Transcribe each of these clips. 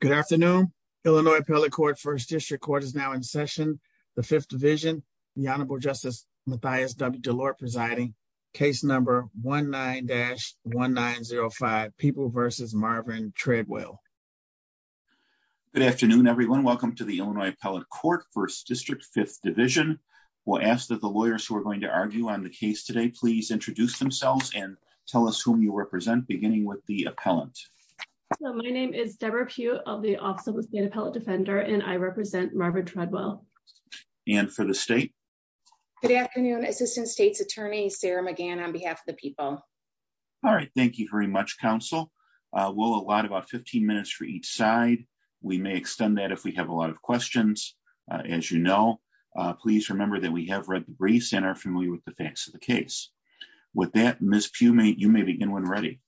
Good afternoon. Illinois Appellate Court First District Court is now in session. The Fifth Division, the Honorable Justice Mathias W. Delort presiding. Case number 19-1905, People v. Marvin Treadwell. Good afternoon, everyone. Welcome to the Illinois Appellate Court First District Fifth Division. We'll ask that the lawyers who are going to argue on the case today please introduce themselves and tell us whom you represent beginning with the appellant. My name is Deborah Pugh of the Office of the Appellate Defender and I represent Marvin Treadwell. And for the state? Good afternoon, Assistant State's Attorney Sarah McGann on behalf of the people. All right. Thank you very much, Counsel. We'll allot about 15 minutes for each side. We may extend that if we have a lot of questions. As you know, please remember that we have read the briefs and are familiar with the facts of the case. With that, Ms. Pugh, you may begin when ready.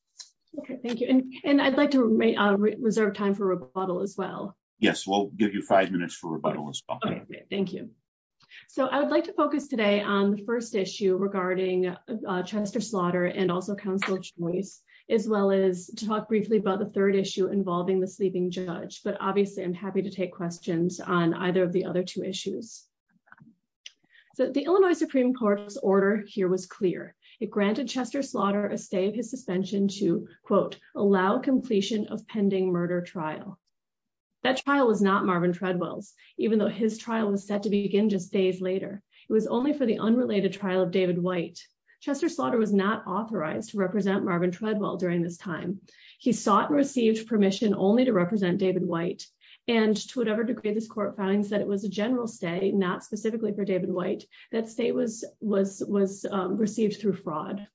Okay, thank you. And I'd like to reserve time for rebuttal as well. Yes, we'll give you five minutes for rebuttal as well. Thank you. So I would like to focus today on the first issue regarding Chester Slaughter and also counsel choice, as well as to talk briefly about the third issue involving the sleeping judge but obviously I'm happy to take questions on either of the other two issues. So the Illinois Supreme Court's order here was clear. It granted Chester Slaughter a stay of his suspension to, quote, allow completion of pending murder trial. That trial was not Marvin Treadwell's, even though his trial was set to begin just days later. It was only for the unrelated trial of David White. Chester Slaughter was not authorized to represent Marvin Treadwell during this time. He sought and received permission only to represent David White, and to whatever degree this court finds that it was a general stay, not specifically for David White, that stay was received through fraud.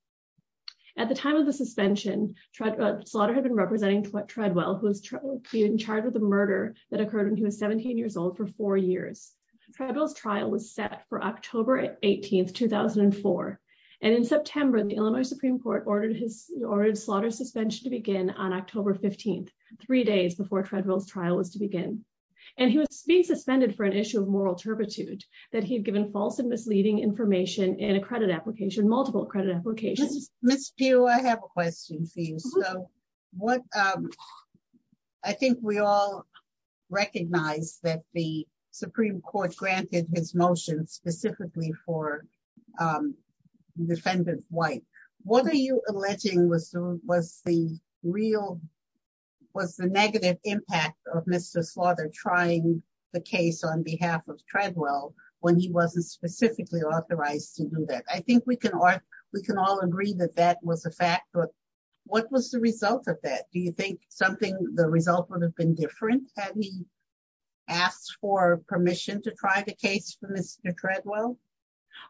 At the time of the suspension, Slaughter had been representing Treadwell, who was charged with the murder that occurred when he was 17 years old for four years. Treadwell's trial was set for October 18, 2004. And in September, the Illinois Supreme Court ordered Slaughter's suspension to begin on October 15, three days before Treadwell's trial was to begin. And he was being suspended for an issue of moral turpitude, that he had given false and misleading information in a credit application, multiple credit applications. Ms. Pugh, I have a question for you. I think we all recognize that the Supreme Court granted his motion specifically for Defendant White. What are you alleging was the negative impact of Mr. Slaughter trying the case on behalf of Treadwell when he wasn't specifically authorized to do that? I think we can all agree that that was a fact, but what was the result of that? Do you think the result would have been different had he asked for permission to try the case for Mr. Treadwell?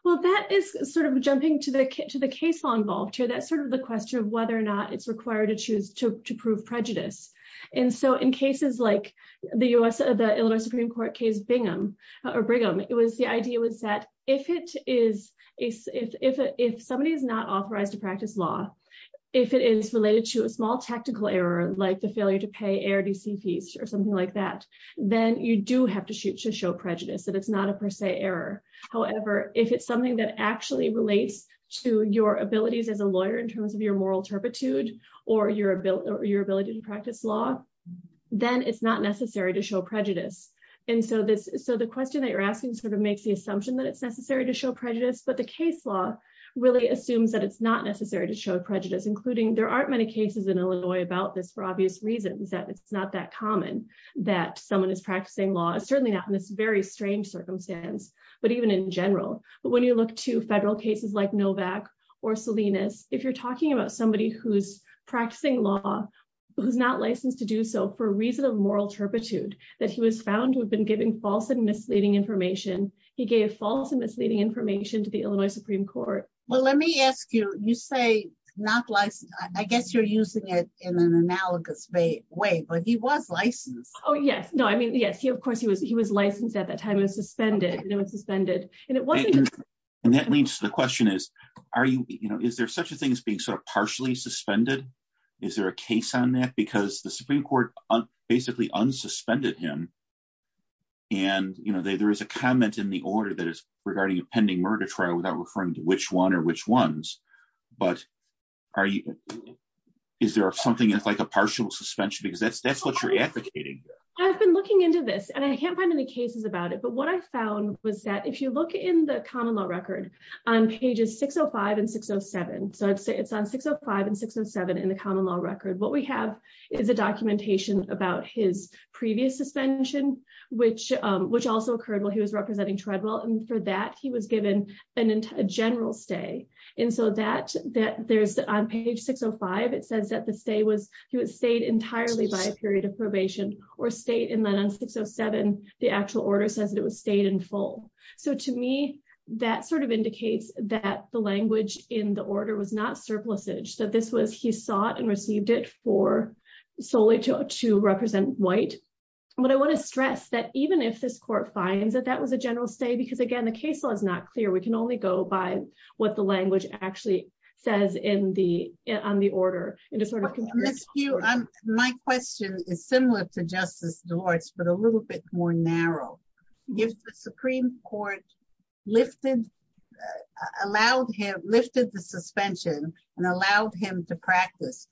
Well, that is sort of jumping to the case law involved here. That's sort of the question of whether or not it's required to choose to prove prejudice. And so in cases like the Illinois Supreme Court case Brigham, the idea was that if somebody is not authorized to practice law, if it is related to a small tactical error, like the failure to pay ARDC fees or something like that, then you do have to show prejudice, that it's not a per se error. However, if it's something that actually relates to your abilities as a lawyer in terms of your moral turpitude or your ability to practice law, then it's not necessary to show prejudice. And so the question that you're asking sort of makes the assumption that it's necessary to show prejudice, but the case law really assumes that it's not necessary to show prejudice, including there aren't many cases in Illinois about this for obvious reasons, that it's not that common that someone is practicing law, certainly not in this very strange circumstance, but even in general. But when you look to federal cases like Novak or Salinas, if you're talking about somebody who's practicing law, who's not licensed to do so for a reason of moral turpitude, that he was found to have been giving false and misleading information, he gave false and misleading information to the Illinois Supreme Court. Well, let me ask you, you say not licensed, I guess you're using it in an analogous way, but he was licensed. Oh, yes. No, I mean, yes, he of course, he was he was licensed at that time and suspended. And that leads to the question is, are you, you know, is there such a thing as being sort of partially suspended? Is there a case on that? Because the Supreme Court basically unsuspended him. And, you know, there is a comment in the order that is regarding a pending murder trial without referring to which one or which ones, but are you, is there something that's like a partial suspension because that's that's what you're advocating. I've been looking into this and I can't find any cases about it. But what I found was that if you look in the common law record on pages 605 and 607, so it's on 605 and 607 in the common law record, what we have is a documentation about his previous suspension, which also occurred while he was representing Treadwell and for that he was given a general stay. And so that there's on page 605, it says that the stay was, he was stayed entirely by a period of probation or stayed and then on 607, the actual order says that it was stayed in full. So to me, that sort of indicates that the language in the order was not surplusage. So this was, he sought and received it for solely to represent white. But I want to stress that even if this court finds that that was a general stay because again the case law is not clear, we can only go by what the language actually says in the, on the order. My question is similar to Justice Delores but a little bit more narrow. If the Supreme Court lifted, allowed him, lifted the suspension and allowed him to practice.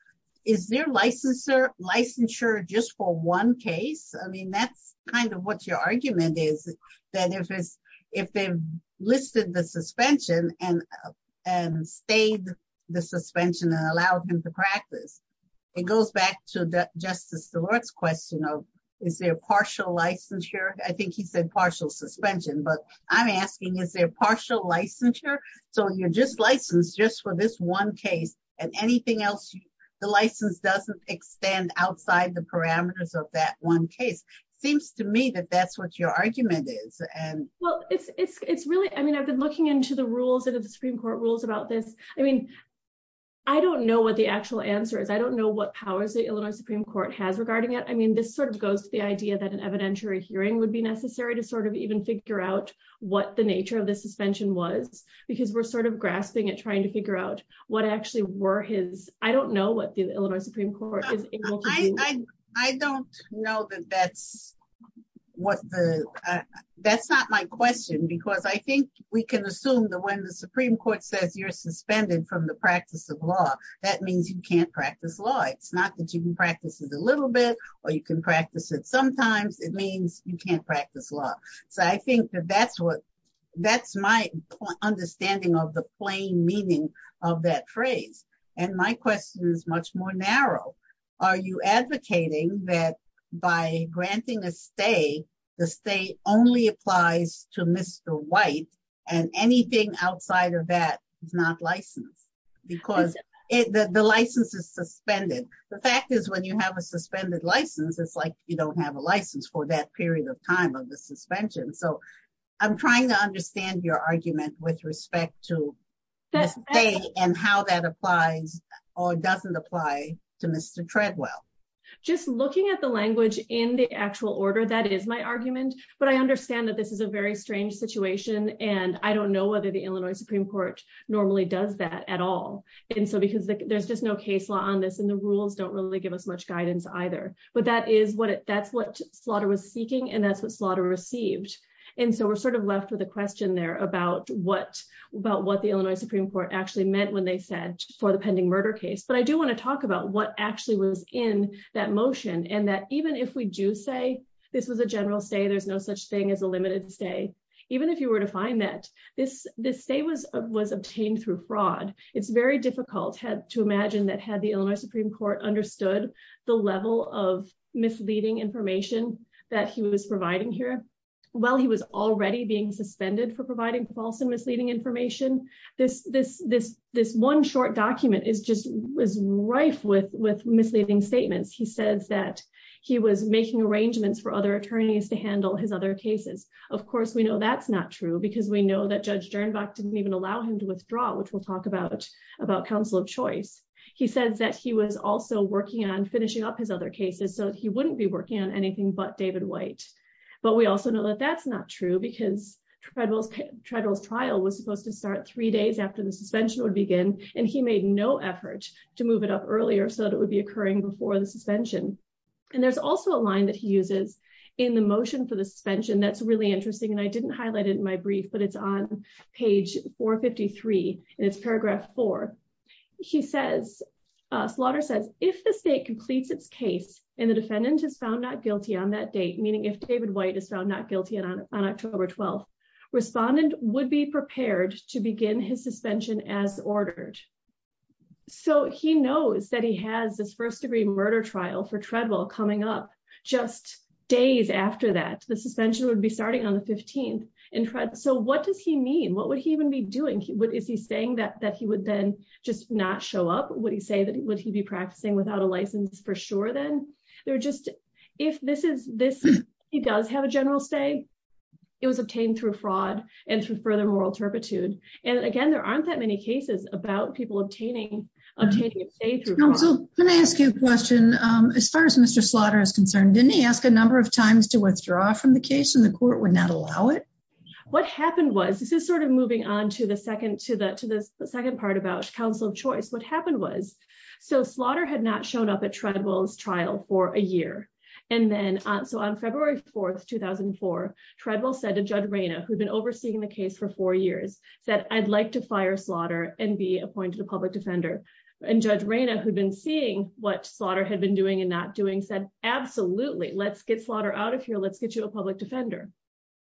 Is there licensure, licensure just for one case? I mean that's kind of what your argument is that if it's, if they've listed the suspension and stayed the suspension and allowed him to practice. It goes back to Justice Delores question of, is there partial licensure? I think he said partial suspension but I'm asking is there partial licensure? So you're just licensed just for this one case and anything else, the license doesn't extend outside the parameters of that one case. Seems to me that that's what your argument is. And, well, it's really, I mean I've been looking into the rules of the Supreme Court rules about this. I mean, I don't know what the actual answer is. I don't know what powers the Illinois Supreme Court has regarding it. I mean this sort of goes to the idea that an evidentiary hearing would be necessary to sort of even figure out what the nature of the suspension was, because we're sort of grasping at trying to figure out what actually were his, I don't know what the Illinois Supreme Court is able to do. I don't know that that's what the. That's not my question because I think we can assume that when the Supreme Court says you're suspended from the practice of law, that means you can't practice law it's not that you can practice it a little bit, or you can practice it sometimes it means you that by granting a stay the state only applies to Mr. White, and anything outside of that is not licensed, because it the license is suspended. The fact is when you have a suspended license it's like you don't have a license for that period of time of the suspension so I'm trying to understand your argument with respect to this day, and how that applies or doesn't apply to Mr. White because the rules don't really give us much guidance either, but that is what it that's what slaughter was seeking and that's what slaughter received. And so we're sort of left with a question there about what about what the Illinois Supreme Court actually meant when they said for the pending murder case but I do want to talk about what actually was in that motion and that even if we do say this was a motion that the Illinois Supreme Court understood the level of misleading information that he was providing here. While he was already being suspended for providing false and misleading information. This, this, this, this one short document is just was rife with with misleading statements he says that he was making arrangements for other attorneys to handle his other cases. Of course we know that's not true because we know that judge turn back didn't even allow him to withdraw which we'll talk about about Council of Choice. He says that he was also working on finishing up his other cases so he wouldn't be working on anything but David white, but we also know that that's not true because tribal tribal trial was supposed to start three days after the suspension would begin, and he made no effort to move it up earlier so that would be occurring before the suspension. And there's also a line that he uses in the motion for the suspension that's really interesting and I didn't highlight it in my brief but it's on page 453, and it's paragraph four. He says slaughter says, if the state completes its case, and the defendant is found not guilty on that date meaning if David white is found not guilty and on October 12 respondent would be prepared to begin his suspension as ordered. So he knows that he has this first degree murder trial for travel coming up just days after that the suspension would be starting on the 15th and Fred So what does he mean what would he even be doing what is he saying that that he would then just not show up, would he say that would he be practicing without a license for sure then they're just, if this is this. He does have a general stay. It was obtained through fraud and through further moral turpitude. And again, there aren't that many cases about people obtaining obtaining a page. So, let me ask you a question. As far as Mr slaughter is concerned, didn't he ask a number of times to withdraw from the case and the court would not allow it. What happened was this is sort of moving on to the second to the to the second part about Council of Choice what happened was so slaughter had not shown up at tribal's trial for a year. And then, so on February 4 2004 tribal said to judge Raina who'd been overseeing the case for four years that I'd like to fire slaughter and be appointed a public defender and judge Raina who'd been seeing what slaughter had been doing and not doing said, absolutely, let's get slaughter out of here let's get you a public defender.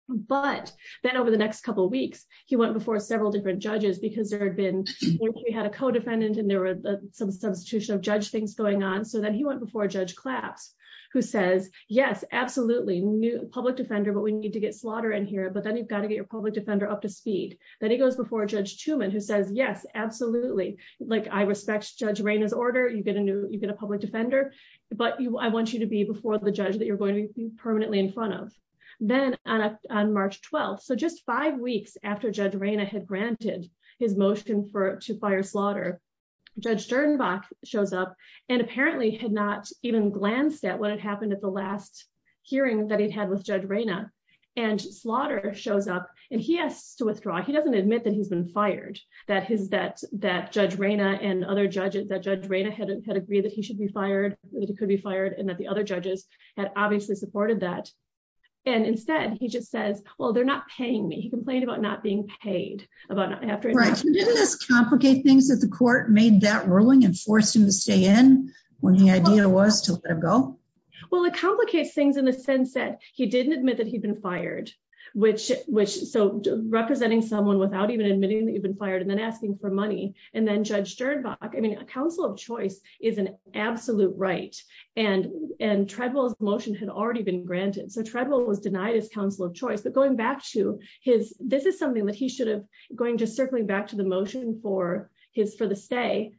But then over the next couple of weeks, he went before several different judges because there had been. We had a co defendant and there were some substitution of judge things going on so that he went before Judge claps, who says, yes, absolutely new public defender but we need to get slaughter in here but then you've got to get your public defender up to speed, that he goes before Judge Truman who says yes, absolutely, like I respect judge Raina his order you get a new you get a public defender, but I want you to be before the judge that you're going to be permanently in front of, then on March 12 so just five weeks after judge Raina had granted his motion for to fire slaughter judge turn back shows up, and apparently had not even glanced at what had happened at the last hearing that he'd had with judge Raina and slaughter shows up, and he has to withdraw he doesn't admit that he's been fired, that his that that judge Raina and other judges that judge Raina had had agreed that he should be fired, that he could be fired and that the other judges had obviously supported that. And instead, he just says, well they're not paying me he complained about not being paid about after this complicate things that the court made that ruling and forced him to stay in when the idea was to go. Well it complicates things in the sense that he didn't admit that he'd been fired, which, which so representing someone without even admitting that you've been fired and then asking for money, and then judge turn back I mean a council of choice is an absolute absolute right and and tribal emotion had already been granted so tribal was denied his council of choice but going back to his, this is something that he should have going just circling back to the motion for his for the stay.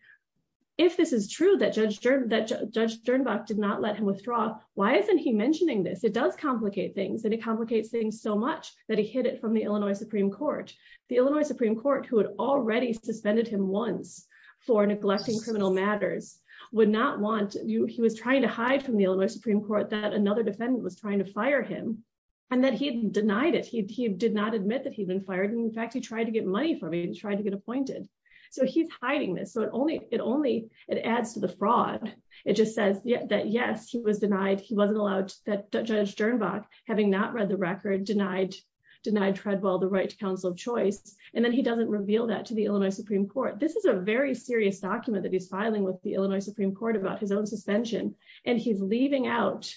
If this is true that judge that judge turn back did not let him withdraw. Why isn't he mentioning this it does complicate things and it complicates things so much that he hit it from the Illinois Supreme Court, the Illinois Supreme Court who had already suspended him once for neglecting criminal matters would not want you he was trying to hide from the Illinois Supreme Court that another defendant was trying to fire him, and that he denied it he did not admit that he'd been fired and in fact he tried to get money for me and tried to get appointed. So he's hiding this so it only it only it adds to the fraud. It just says that yes he was denied he wasn't allowed that judge turn back, having not read the record denied denied Treadwell the right to counsel of choice, and then he doesn't reveal that to the Illinois Supreme Court, this is a very serious document that he's filing with the Illinois Supreme Court about his own suspension, and he's leaving out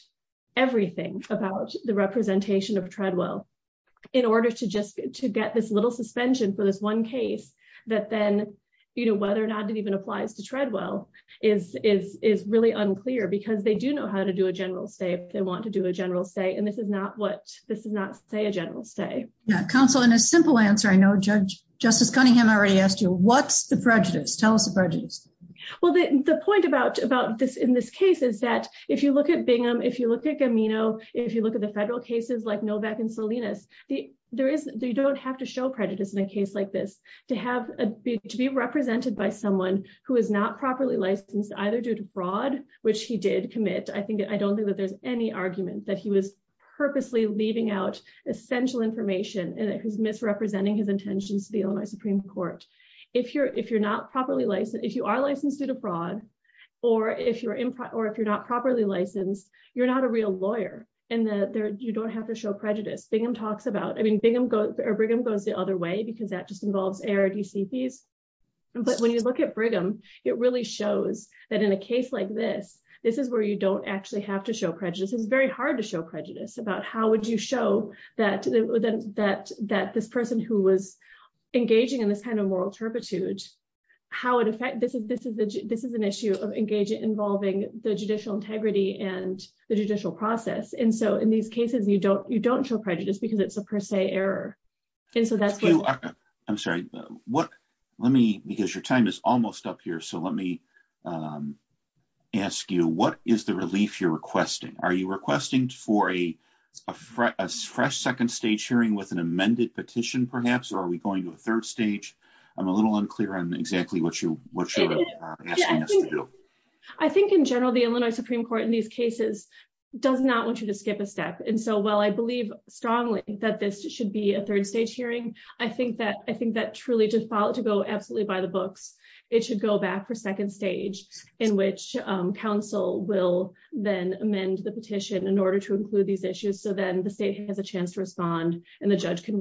everything about the representation of Treadwell, in order to just to get this little suspension for this one case that then you know whether or not it even applies to Treadwell is is is really unclear because they do know how to do a general state, they want to do a general state and this is not what this is not say a general stay council in a simple answer I know judge, Justice Cunningham already asked you what's the prejudice tell us a prejudice. Well, the point about about this in this case is that if you look at Bingham if you look at me know if you look at the federal cases like Novak and Salinas, the, there is, they don't have to show prejudice in a case like this to have a big to be represented by someone who is not properly licensed either due to broad, which he did commit I think I don't think that there's any argument that he was purposely leaving out essential information and it was misrepresenting his intentions to the Illinois Supreme Court. If you're if you're not properly licensed if you are licensed to the broad, or if you're in, or if you're not properly licensed, you're not a real lawyer, and that there, you don't have to show prejudice Bingham talks about I mean Bingham go or Brigham goes the But when you look at Brigham, it really shows that in a case like this. This is where you don't actually have to show prejudice is very hard to show prejudice about how would you show that, that, that this person who was engaging in this kind of moral turpitude, how it affect this is this is this is an issue of engaging involving the judicial integrity and the judicial process and so in these cases you don't you don't show prejudice because it's a per se error. And so that's, I'm sorry, what, let me, because your time is almost up here so let me ask you what is the relief you're requesting, are you requesting for a fresh second stage hearing with an amended petition perhaps or are we going to a third stage. I'm a little unclear on exactly what you what you're asking us to do. I think in general the Illinois Supreme Court in these cases, does not want you to skip a step and so well I believe strongly that this should be a third stage hearing. I think that I think that truly to follow to go absolutely by the books. It should go back for second stage in which Council will then amend the petition in order to include these issues so then the state has a chance to respond, and the judge can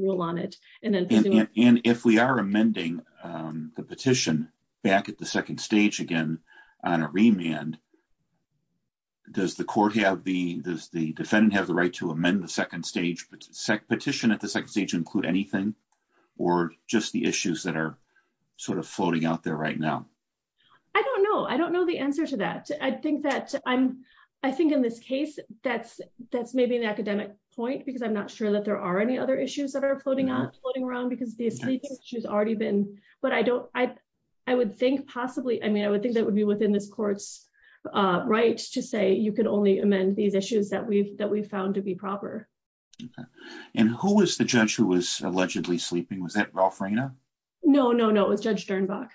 does the court have the does the defendant have the right to amend the second stage but SEC petition at the second stage include anything, or just the issues that are sort of floating out there right now. I don't know I don't know the answer to that. I think that I'm, I think in this case, that's, that's maybe an academic point because I'm not sure that there are any other issues that are floating around because she's already been, but I don't, I, I would think that possibly I mean I would think that would be within this court's right to say you can only amend these issues that we've that we found to be proper. And who was the judge who was allegedly sleeping was that Rolf Reyna. No, no, no, it was Judge Dernbach.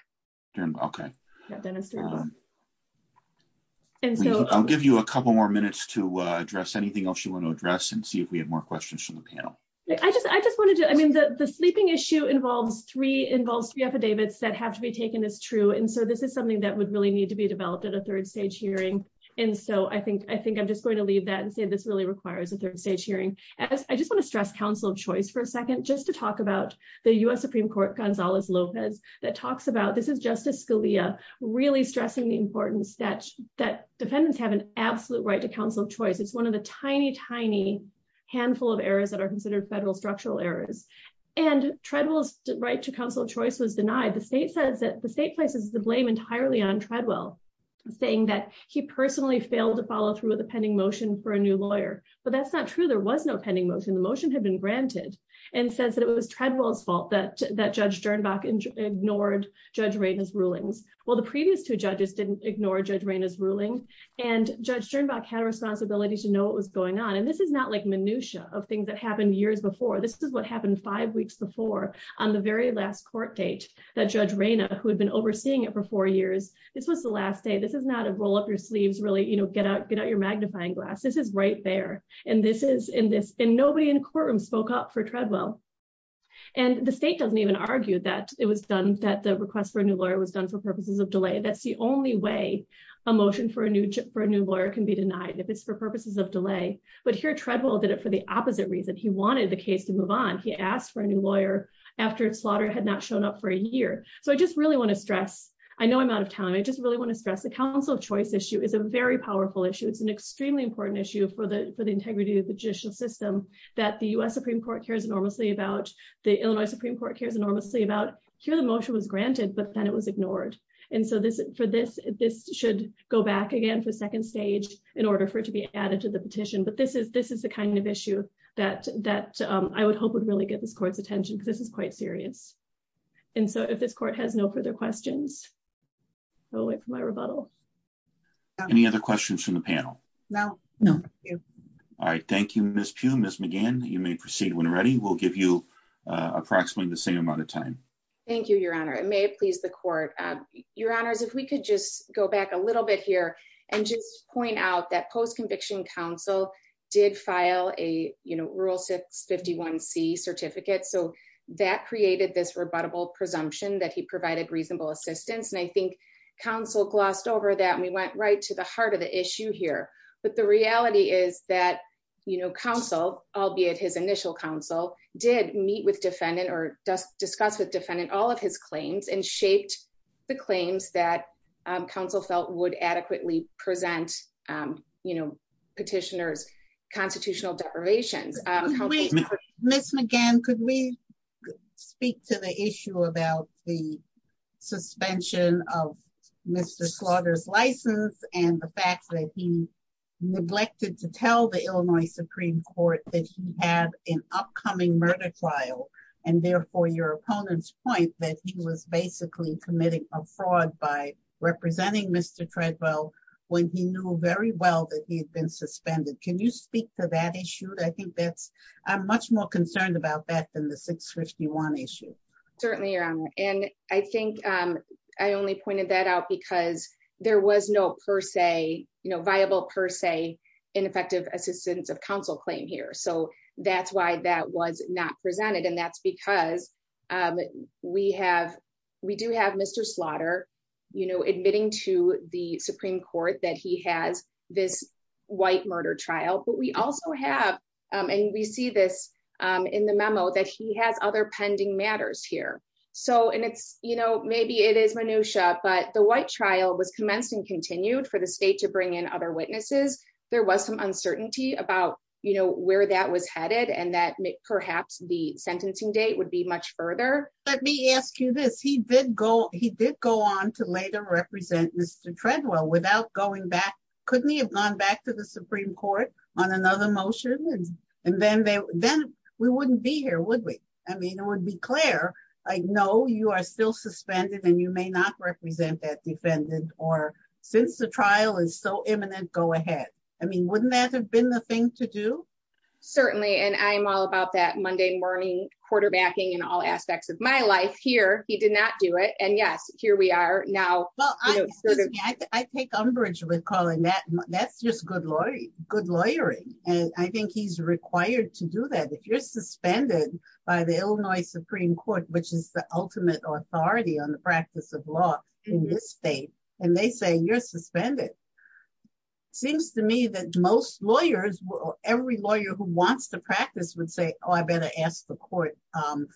Okay. And so I'll give you a couple more minutes to address anything else you want to address and see if we have more questions from the panel. I just, I just wanted to, I mean the the sleeping issue involves three involves three affidavits that have to be taken as true and so this is something that would really need to be developed at a third stage hearing. And so I think, I think I'm just going to leave that and say this really requires a third stage hearing. I just want to stress Council of Choice for a second just to talk about the US Supreme Court Gonzalez Lopez that talks about this is Justice Scalia, really stressing the importance that that defendants have an absolute right to counsel choice it's one of the tiny tiny handful of errors that are considered federal structural errors and treadmills right to counsel choice was denied the state says that the state places the blame entirely on Treadwell, saying that he personally failed to follow through with a pending motion for a new lawyer, but that's not true there was no pending motion the motion had been granted, and says that it was Treadwell's fault that that Judge Dernbach ignored Judge Reyna's rulings. Well the previous two judges didn't ignore Judge Reyna's ruling, and Judge Dernbach had a responsibility to know what was going on and this is not like minutiae of things that happened years before this is what happened five weeks before on the very last court date that Judge Reyna who had been overseeing it for four years. This was the last day this is not a roll up your sleeves really you know get out get out your magnifying glass this is right there. And this is in this in nobody in courtroom spoke up for Treadwell. And the state doesn't even argue that it was done that the request for a new lawyer was done for purposes of delay that's the only way emotion for a new chip for a new lawyer can be denied if it's for purposes of delay, but here Treadwell did it for the So I just really want to stress, I know I'm out of time I just really want to stress the Council of Choice issue is a very powerful issue it's an extremely important issue for the for the integrity of the judicial system that the US Supreme Court cares enormously about the Illinois Supreme Court cares enormously about here the motion was granted but then it was ignored. And so this for this, this should go back again for second stage, in order for it to be added to the petition but this is this is the kind of issue that that I would hope would really get this court's attention because this is quite serious. And so if this court has no further questions. Oh wait for my rebuttal. Any other questions from the panel. No, no. All right. Thank you, Miss Pugh Miss McGann, you may proceed when ready we'll give you approximately the same amount of time. Thank you, Your Honor, it may please the court. Your Honors, if we could just go back a little bit here and just point out that post conviction Council did file a, you know, rule 651 C certificate so that created this rebuttable presumption that he provided reasonable assistance and I think Council glossed over that and we went right to the heart of the issue here, but the reality is that, you know, Council, albeit his initial Council did meet with defendant or discuss with defendant all of his claims and shaped the claims that Council felt would adequately present, you know, petitioners constitutional deprivations. Miss McGann could we speak to the issue about the suspension of Mr slaughters license, and the fact that he neglected to tell the Illinois Supreme Court that he had an upcoming murder trial, and therefore your opponent's point that he was basically committing a fraud by representing Mr Treadwell, when he knew very well that he'd been suspended. Can you speak to that issue that I think that's, I'm much more concerned about that than the 651 issue. Certainly, and I think I only pointed that out because there was no per se, you know, viable per se ineffective assistance of Council claim here so that's why that was not presented and that's because we have, we do have Mr slaughter, you know, admitting to the Supreme Court, and that the sentencing matters here. So and it's, you know, maybe it is minutiae but the white trial was commenced and continued for the state to bring in other witnesses. There was some uncertainty about, you know where that was headed and that may perhaps the sentencing date would be much further. Let me ask you this he did go, he did go on to later represent Mr Treadwell without going back, couldn't he have gone back to the Supreme Court for a motion, and then they, then we wouldn't be here would we, I mean it would be clear. I know you are still suspended and you may not represent that defendant, or since the trial is so imminent go ahead. I mean wouldn't that have been the thing to do. Certainly, and I'm all about that Monday morning quarterbacking and all aspects of my life here, he did not do it and yes, here we are now. I take umbrage with calling that that's just good lawyer, good lawyering, and I think he's required to do that if you're suspended by the Illinois Supreme Court, which is the ultimate authority on the practice of law in this state, and they say you're suspended. Seems to me that most lawyers will every lawyer who wants to practice would say, Oh, I better ask the court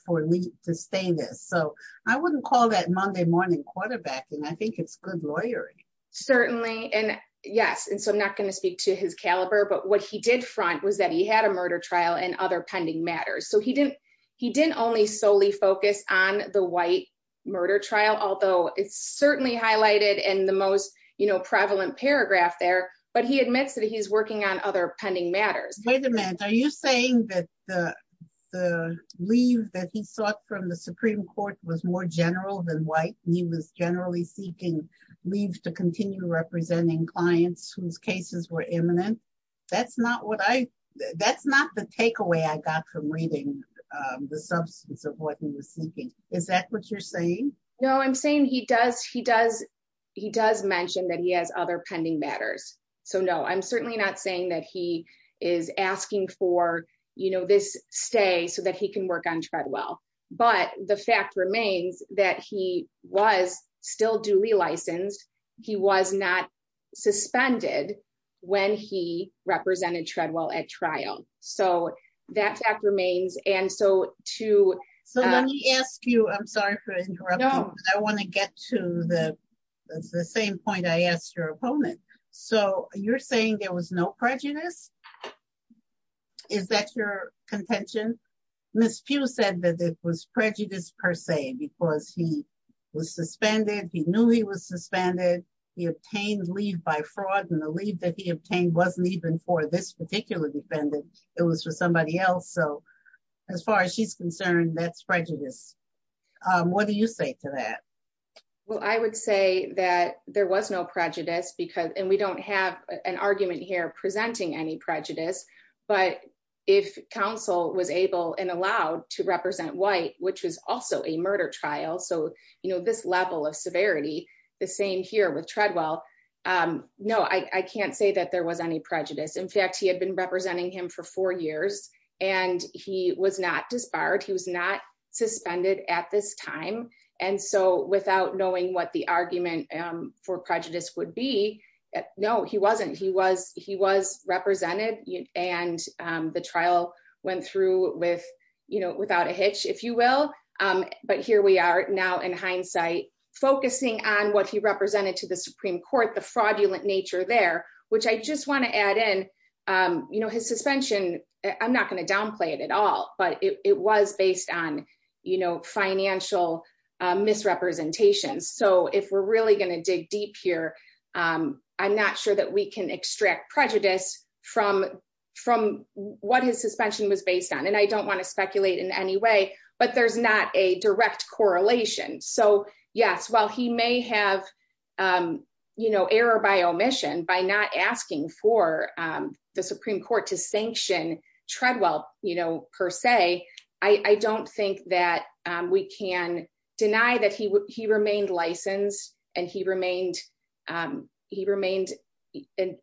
for me to stay in this so I wouldn't call that Monday morning quarterback and I think it's good lawyering. Certainly, and yes and so I'm not going to speak to his caliber but what he did front was that he had a murder trial and other pending matters so he didn't, he didn't only solely focus on the white murder trial although it's certainly highlighted and the most, you representing clients whose cases were imminent. That's not what I, that's not the takeaway I got from reading the substance of what he was thinking, is that what you're saying, no I'm saying he does he does. He does mention that he has other pending matters. So no, I'm certainly not saying that he is asking for, you know, this stay so that he can work on Treadwell, but the fact remains that he was still duly licensed. He was not suspended. When he represented Treadwell at trial. So, that remains, and so, to ask you, I'm sorry for interrupting. I want to get to the same point I asked your opponent. So, you're saying there was no prejudice. Is that your contention. Miss Pew said that it was prejudice per se because he was suspended he knew he was suspended. He obtained leave by fraud and the leave that he obtained wasn't even for this particular defendant. It was for somebody else so as far as she's concerned that's prejudice. What do you say to that. Well, I would say that there was no prejudice because and we don't have an argument here presenting any prejudice, but if counsel was able and allowed to represent white, which was also a murder trial so you know this level of severity. The same here with Treadwell. No, I can't say that there was any prejudice in fact he had been representing him for four years, and he was not disbarred he was not suspended at this time. And so without knowing what the argument for prejudice would be. No, he wasn't he was he was represented, and the trial went through with, you know, without a hitch, if you will. But here we are now in hindsight, focusing on what he represented to the Supreme Court the fraudulent nature there, which I just want to add in, you know, his suspension. I'm not going to downplay it at all, but it was based on, you know, financial misrepresentation so if we're really going to dig deep here. I'm not sure that we can extract prejudice from from what his suspension was based on and I don't want to speculate in any way, but there's not a direct correlation so yes well he may have. You know error by omission by not asking for the Supreme Court to sanction Treadwell, you know, per se, I don't think that we can deny that he he remained licensed, and he remained. He remained an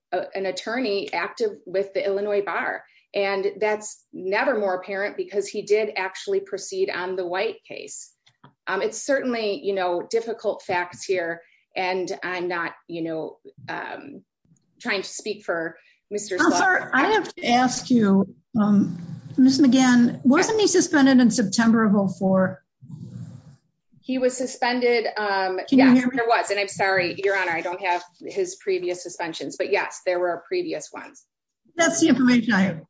attorney active with the Illinois bar, and that's never more apparent because he did actually proceed on the white case. It's certainly you know difficult facts here, and I'm not, you know, trying to speak for Mr. I have to ask you. Again, wasn't he suspended in September of all for. He was suspended. Yeah, there was and I'm sorry, Your Honor, I don't have his previous suspensions but yes there were previous ones. That's the information I have.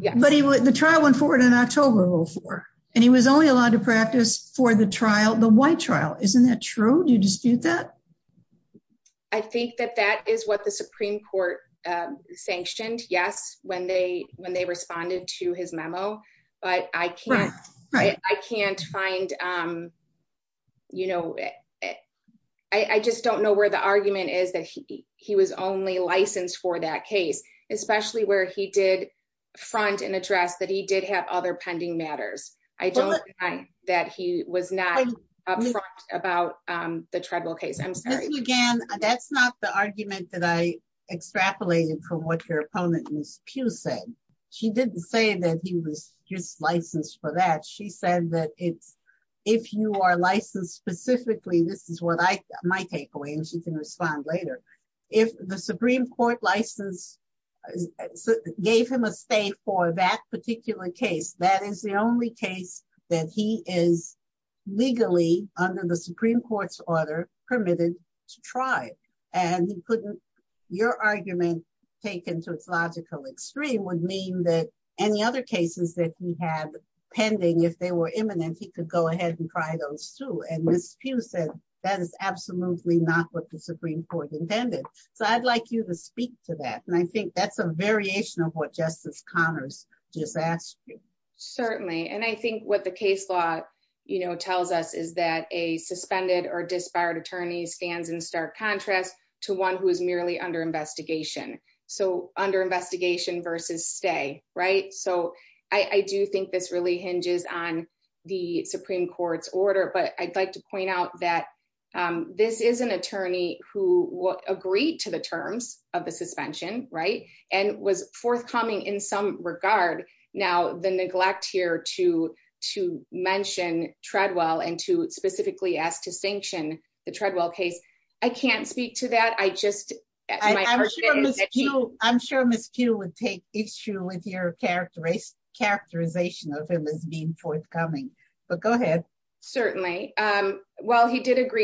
Yeah, but he was the trial went forward in October before, and he was only allowed to practice for the trial the white trial, isn't that true do you dispute that. I think that that is what the Supreme Court sanctioned yes when they when they responded to his memo, but I can't, I can't find, you know, I just don't know where the argument is that he, he was only licensed for that case, especially where he did front and address that he did have other pending matters. I don't mind that he was not about the tribal case I'm sorry again, that's not the argument that I extrapolated from what your opponent is Pew said she didn't say that he was just licensed for that she said that it's. If you are licensed specifically this is what I might take away and she can respond later. If the Supreme Court license gave him a stay for that particular case that is the only case that he is legally under the Supreme Court's order to be permitted to try, and he couldn't. Your argument taken to its logical extreme would mean that any other cases that we have pending if they were imminent he could go ahead and try those two and miss Pew said that is absolutely not what the Supreme Court intended. So I'd like you to speak to that and I think that's a variation of what Justice Connors just asked you. Certainly, and I think what the case law, you know, tells us is that a suspended or disbarred attorney stands in stark contrast to one who is merely under investigation. So, under investigation versus stay right so I do think this really hinges on the Supreme Court's order but I'd like to point out that this is an attorney who agreed to the terms of the suspension, right, and was forthcoming in some regard. Certainly, while he did agree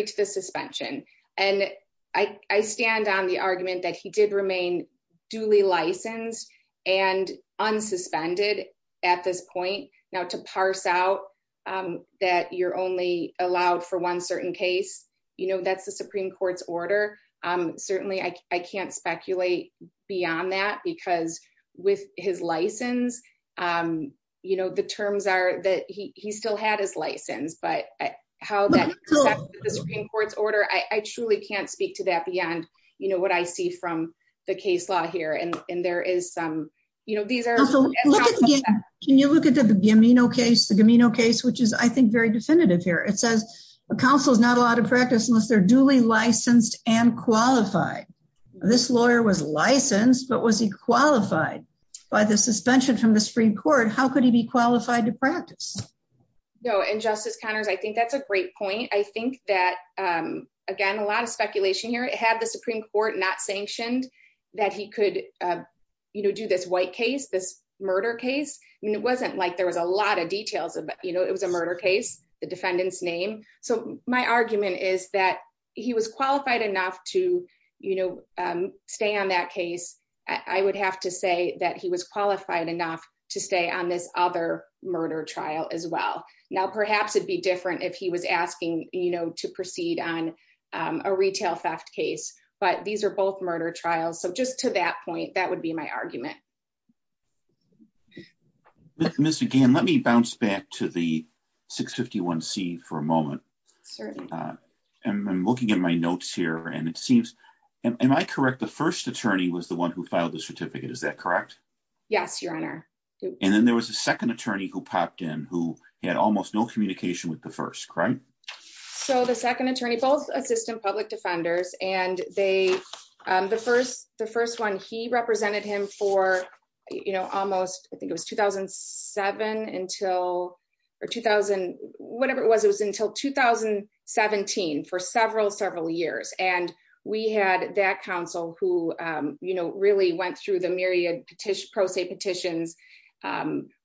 to the suspension, and I stand on the argument that he did remain duly licensed and unsuspended. At this point, now to parse out that you're only allowed for one certain case, you know that's the Supreme Court's order. Certainly I can't speculate beyond that because with his license. You know the terms are that he still had his license but how the Supreme Court's order I truly can't speak to that beyond, you know what I see from the case law here and there is some, you know, these are. Can you look at the gamino case the gamino case which is I think very definitive here it says a council is not allowed to practice unless they're duly licensed and qualified. This lawyer was licensed but was he qualified by the suspension from the Supreme Court, how could he be qualified to practice. No and Justice Connors I think that's a great point. I think that, again, a lot of speculation here it had the Supreme Court not sanctioned that he could, you know, do this white case this murder case, and it wasn't like there was a lot of details Now perhaps it'd be different if he was asking, you know, to proceed on a retail theft case, but these are both murder trials so just to that point, that would be my argument. Mr. Gann let me bounce back to the 651 C for a moment. And I'm looking at my notes here and it seems, am I correct the first attorney was the one who filed the certificate is that correct. Yes, Your Honor. And then there was a second attorney who popped in who had almost no communication with the first crime. So the second attorney both assistant public defenders, and they, the first, the first one he represented him for, you know, almost, I think it was 2007 until 2000, whatever it was it was until 2017 for several several years and we had that council who, you know, really went through the myriad petition pro se petitions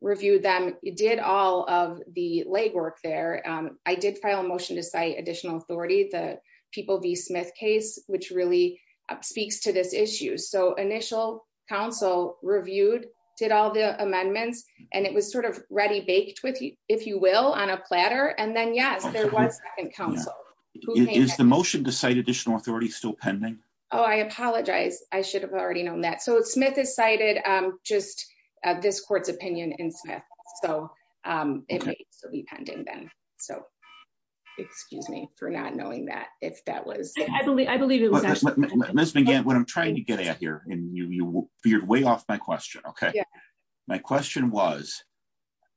review them, did all of the legwork there. I did file a motion to cite additional authority the people the Smith case, which really speaks to this issue so initial council reviewed did all the amendments, and it was sort of ready baked with you, if you will, on a platter and then yes there was is the motion to cite additional authority still pending. Oh, I apologize, I should have already known that so it's Smith is cited just this court's opinion in Smith, so it will be pending then. So, excuse me for not knowing that if that was, I believe, I believe it was. Let's begin what I'm trying to get at here, and you feared way off my question. Okay. My question was,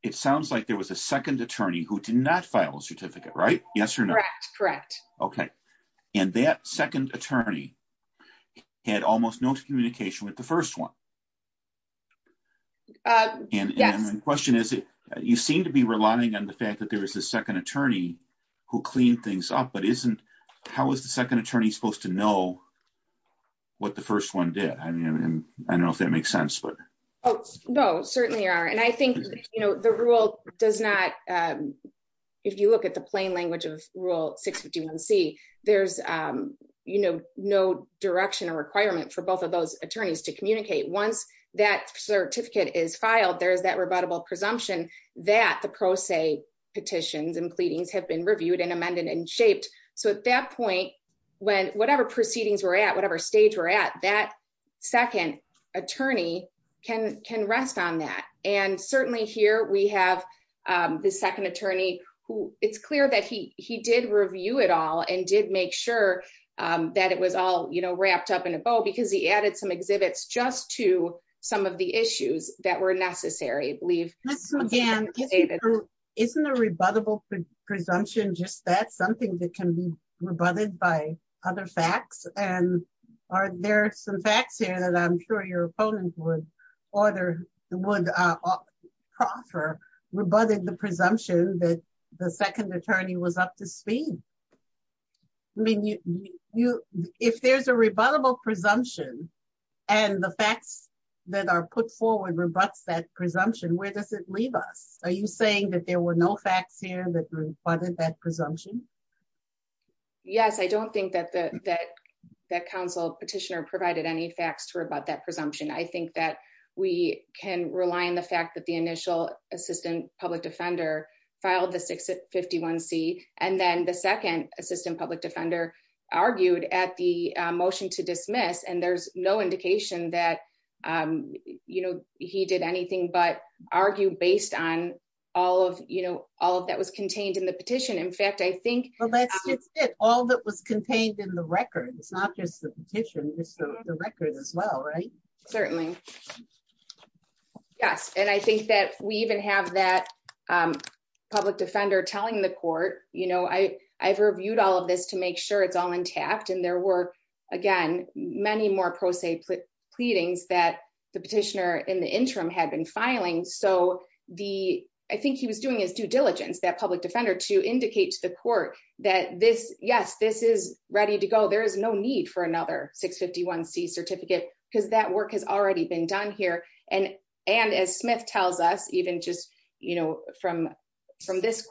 it sounds like there was a second attorney who did not file a certificate right yes or no. Correct. Okay. And that second attorney had almost no communication with the first one. And the question is, you seem to be relying on the fact that there was a second attorney who cleaned things up but isn't. How is the second attorney supposed to know what the first one did, I mean, I don't know if that makes sense but. Oh, no, certainly are and I think, you know, the rule does not. If you look at the plain language of rule six 51 see there's, you know, no direction or requirement for both of those attorneys to communicate once that certificate is filed there's that rebuttable presumption that the pro se petitions and pleadings have been And certainly here we have the second attorney who, it's clear that he, he did review it all and did make sure that it was all you know wrapped up in a bow because he added some exhibits just to some of the issues that were necessary believe. Again, isn't a rebuttable presumption just that something that can be rebutted by other facts, and are there some facts here that I'm sure your opponent would order would offer rebutted the presumption that the second attorney was up to speed. I mean, you, you, if there's a rebuttable presumption, and the facts that are put forward rebutts that presumption where does it leave us, are you saying that there were no facts here that part of that presumption. Yes, I don't think that that that council petitioner provided any facts to her about that presumption I think that we can rely on the fact that the initial assistant public defender filed the 651 C, and then the second assistant public defender argued at the motion to dismiss and there's no indication that, you know, he did anything but argue based on all of you know all of that was contained in the petition in fact I think all that was contained in the record, it's not just the petition this record as well right Certainly. Yes, and I think that we even have that public defender telling the court, you know I I've reviewed all of this to make sure it's all intact and there were, again, many more pro se pleadings that the petitioner in the interim had been filing so the, I think he was doing is due diligence that public defender to indicate to the court that this, yes, this is ready to go there is no need for another 651 C certificate, because that work has already been done here, and, and as Smith tells us even just, you know, from, from this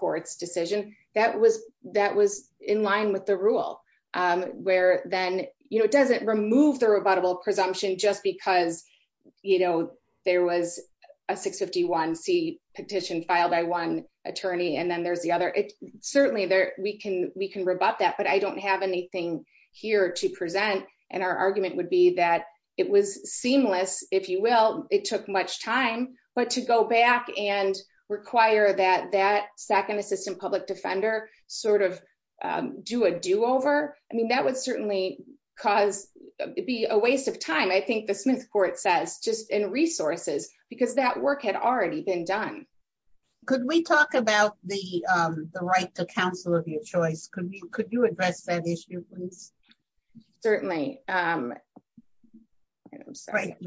attorney and then there's the other it certainly there, we can we can rebut that but I don't have anything here to present, and our argument would be that it was seamless, if you will, it took much time, but to go back and require that that second assistant public defender sort of do a do over. I mean that would certainly cause be a waste of time I think the Smith court says just in resources, because that work had already been done. Could we talk about the right to counsel of your choice could we could you address that issue, please. Certainly.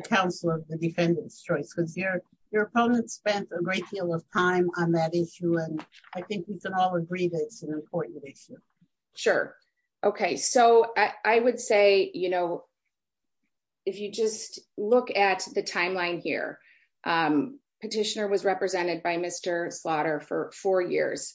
Council of the defendants choice because your, your opponent spent a great deal of time on that issue and I think we can all agree that it's an important issue. Sure. Okay, so I would say, you know, if you just look at the timeline here. Petitioner was represented by Mr slaughter for four years.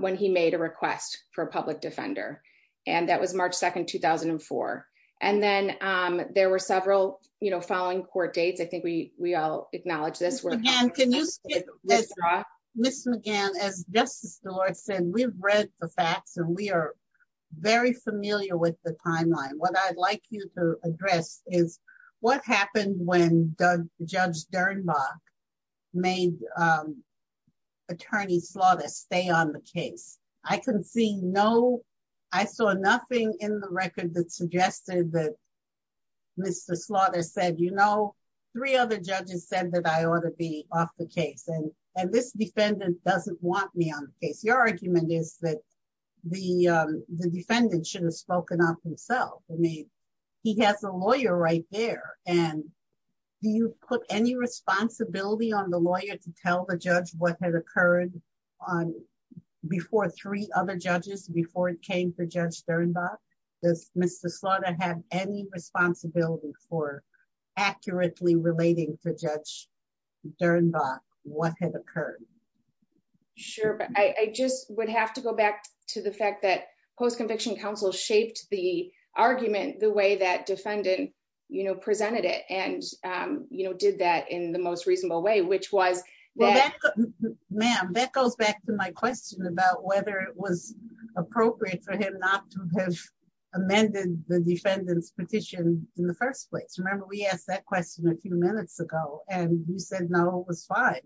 When he made a request for public defender. And that was March 2 2004. And then there were several, you know, following court dates I think we, we all acknowledge this work and can use. Yes, Miss McGann as justice the Lord said we've read the facts and we are very familiar with the timeline what I'd like you to address is what happened when the judge Dernbach made attorney slaughter stay on the case, I can see no. I saw nothing in the record that suggested that Mr slaughter said you know, three other judges said that I ought to be off the case and, and this defendant doesn't want me on the case your argument is that the defendant should have spoken up himself. I mean, he has a lawyer right there. And do you put any responsibility on the lawyer to tell the judge what had occurred on before three other judges before it came to judge Dernbach this Mr slaughter have any responsibility for accurately relating to judge Dernbach, what had occurred. Sure, I just would have to go back to the fact that post conviction counsel shaped the argument, the way that defendant, you know, presented it and, you know, did that in the most reasonable way which was that. Ma'am that goes back to my question about whether it was appropriate for him not to have amended the defendant's petition in the first place remember we asked that question a few minutes ago, and you said no it was fine.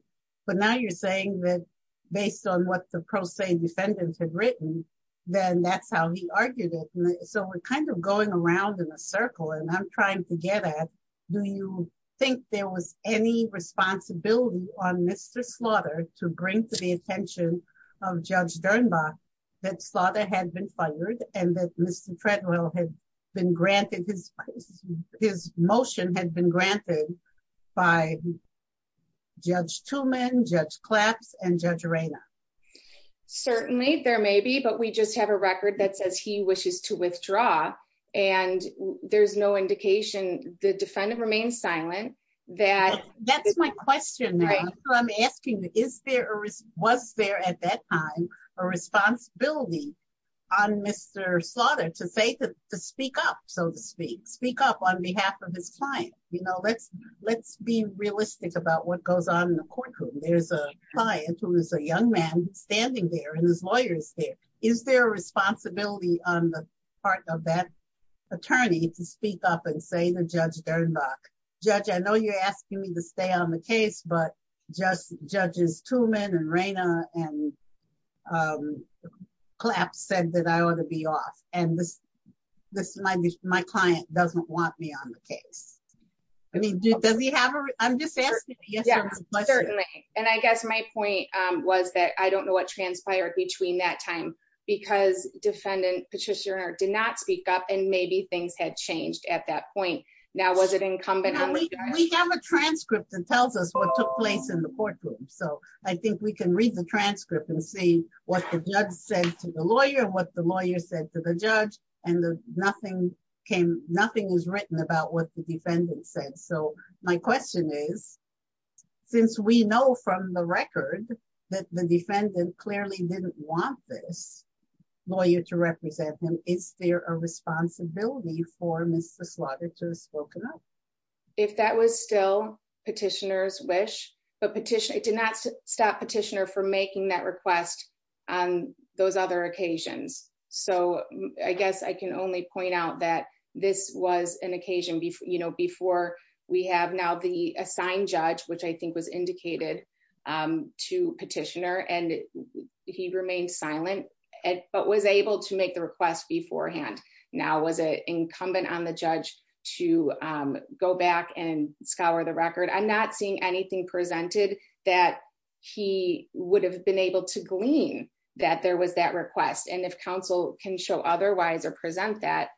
But now you're saying that, based on what the pro se defendant had written, then that's how he argued it. So we're kind of going around in a circle and I'm trying to get at, do you think there was any responsibility on Mr slaughter to bring to the attention of judge Dernbach that slaughter had been fired, and that Mr treadmill has been granted his, his motion had been granted by judge two men judge claps and judge arena. Certainly there may be but we just have a record that says he wishes to withdraw, and there's no indication, the defendant remain silent, that, that's my question. I'm asking, is there a risk was there at that time, a responsibility on Mr slaughter to say to speak up, so to speak, speak up on behalf of his client, you know let's let's be realistic about what goes on in the courtroom there's a client who is a young man standing there and his lawyers there. Is there a responsibility on the part of that attorney to speak up and say the judge Dernbach judge I know you're asking me to stay on the case but just judges Truman and Raina and collapse said that I want to be off, and this, this might be my client doesn't want me on the case. I mean, does he have a, I'm just asking. And I guess my point was that I don't know what transpired between that time, because defendant Patricia did not speak up and maybe things had changed at that point. Now was it incumbent on me, we have a transcript that tells us what took place in the courtroom, so I think we can read the transcript and see what the judge said to the lawyer what the lawyer said to the judge, and the nothing came, nothing is written about what the defendant said so my question is, since we know from the record that the defendant clearly didn't want this lawyer to represent him, is there a responsibility for Mr slaughter to spoken up. If that was still petitioners wish, but petition it did not stop petitioner for making that request on those other occasions. So, I guess I can only point out that this was an occasion before you know before we have now the assigned judge which I think was indicated to petitioner and he remained silent, but was able to make the request beforehand. Now was it incumbent on the judge to go back and scour the record I'm not seeing anything presented that he would have been able to glean that there was that request and if counsel can show otherwise or present that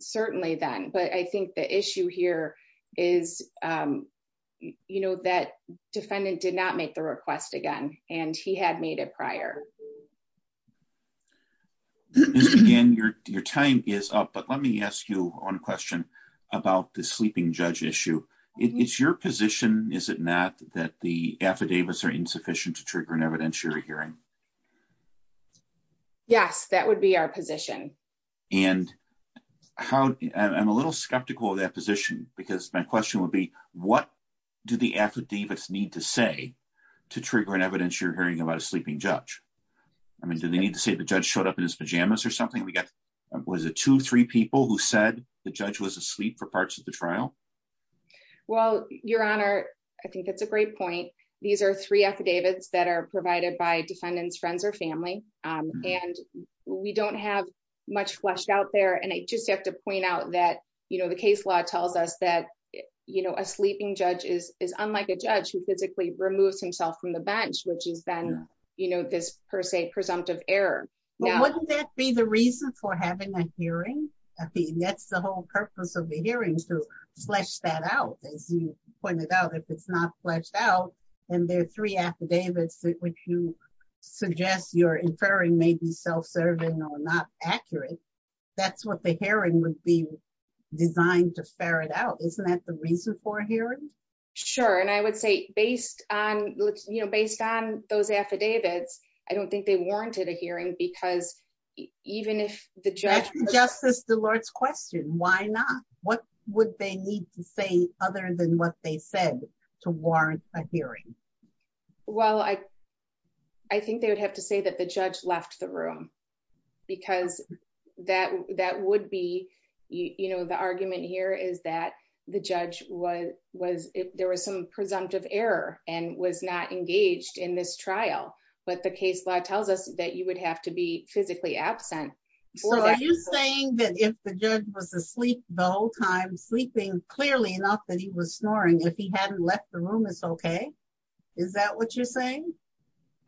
certainly then but I think the issue here is, you know that defendant did not make the request again, and he had made it prior. Again, your, your time is up but let me ask you one question about the sleeping judge issue. It's your position, is it not that the affidavits are insufficient to trigger an evidence you're hearing. Yes, that would be our position, and how I'm a little skeptical that position, because my question would be, what do the affidavits need to say to trigger an evidence you're hearing about a sleeping judge. I mean do they need to say the judge showed up in his pajamas or something we got was a two three people who said the judge was asleep for parts of the trial. Well, your honor. I think that's a great point. These are three affidavits that are provided by defendants friends or family, and we don't have much fleshed out there and I just have to point out that you know the case law tells us that, you know, a sleeping flesh that out as you pointed out if it's not fleshed out, and there are three affidavits that which you suggest you're inferring maybe self serving or not accurate. That's what the hearing would be designed to ferret out isn't that the reason for hearing. Sure, and I would say, based on, you know, based on those affidavits. I don't think they warranted a hearing because even if the judge justice the Lord's question why not, what would they need to say, other than what they said to warrant a hearing. Well, I, I think they would have to say that the judge left the room, because that that would be, you know, the argument here is that the judge was was there was some presumptive error, and was not engaged in this trial, but the case law tells us that you would have to be physically absent. So are you saying that if the judge was asleep the whole time sleeping clearly enough that he was snoring if he hadn't left the room is okay. Is that what you're saying.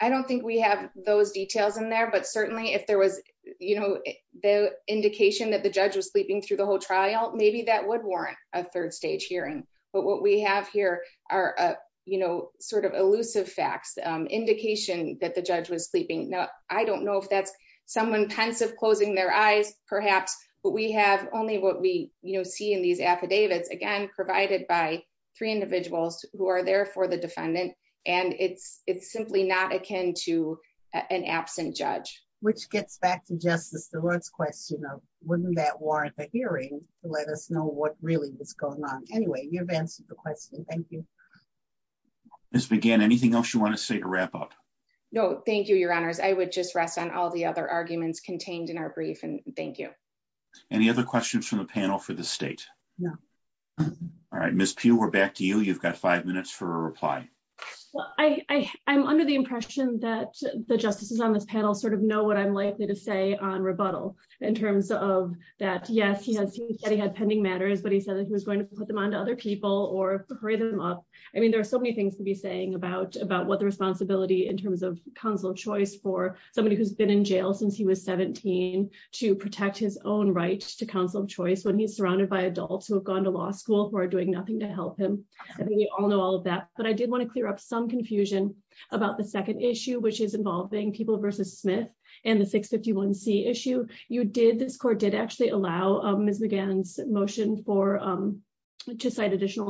I don't think we have those details in there but certainly if there was, you know, the indication that the judge was sleeping through the whole trial, maybe that would warrant a third stage hearing, but what we have here are, you know, sort of elusive facts indication that the judge was sleeping. Now, I don't know if that's someone pensive closing their eyes, perhaps, but we have only what we, you know, see in these affidavits again provided by three individuals who are there for the defendant, and it's, it's simply not akin to an absent judge, which gets back to justice the Lord's question of wouldn't that warrant a hearing, let us know what really is going on. Anyway, you've answered the question. Thank you. This began anything else you want to say to wrap up. No, thank you, your honors, I would just rest on all the other arguments contained in our brief and thank you. Any other questions from the panel for the state. All right, Miss Pew we're back to you you've got five minutes for reply. I, I'm under the impression that the justices on this panel sort of know what I'm likely to say on rebuttal in terms of that yes he has he had pending matters but he said that he was going to put them on to other people or hurry them up. I mean there are so many things to be saying about about what the responsibility in terms of console choice for somebody who's been in jail since he was 17 to protect his own right to counsel choice when he's surrounded by adults who have gone to law school who are doing nothing to help him. We all know all of that, but I did want to clear up some confusion about the second issue which is involving people versus Smith, and the 651 C issue, you did this court did actually allow Miss begins motion for to petition,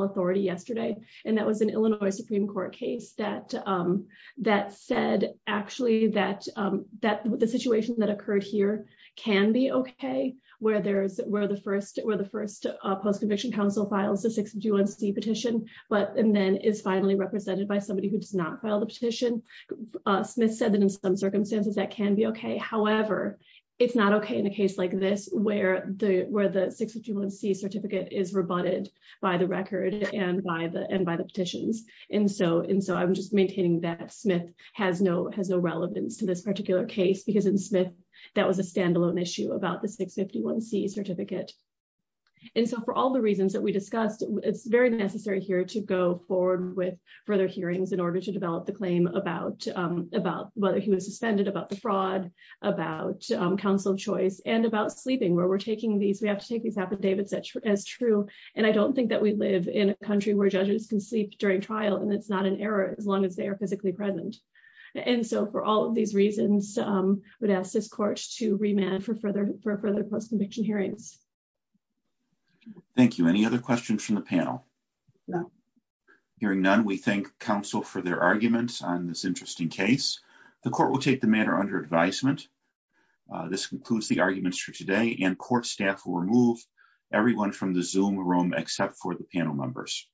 but and then is finally represented by somebody who does not file the petition. Smith said that in some circumstances that can be okay however it's not okay in a case like this, where the where the 651 C certificate is rebutted by the record and by the end by the petitions. And so, and so I'm just maintaining that Smith has no has no relevance to this particular case because in Smith. That was a standalone issue about the 651 C certificate. And so for all the reasons that we discussed, it's very necessary here to go forward with further hearings in order to develop the claim about about whether he was suspended about the fraud about counsel choice and about sleeping where we're taking these we have to take these up and David such as true, and I don't think that we live in a country where judges can sleep during trial and it's not an error, as long as they are physically present. And so for all of these reasons, would ask this court to remand for further for further post conviction hearings. Thank you. Any other questions from the panel. Hearing none. We thank counsel for their arguments on this interesting case, the court will take the matter under advisement. This concludes the arguments for today and court staff will remove everyone from the zoom room except for the panel members.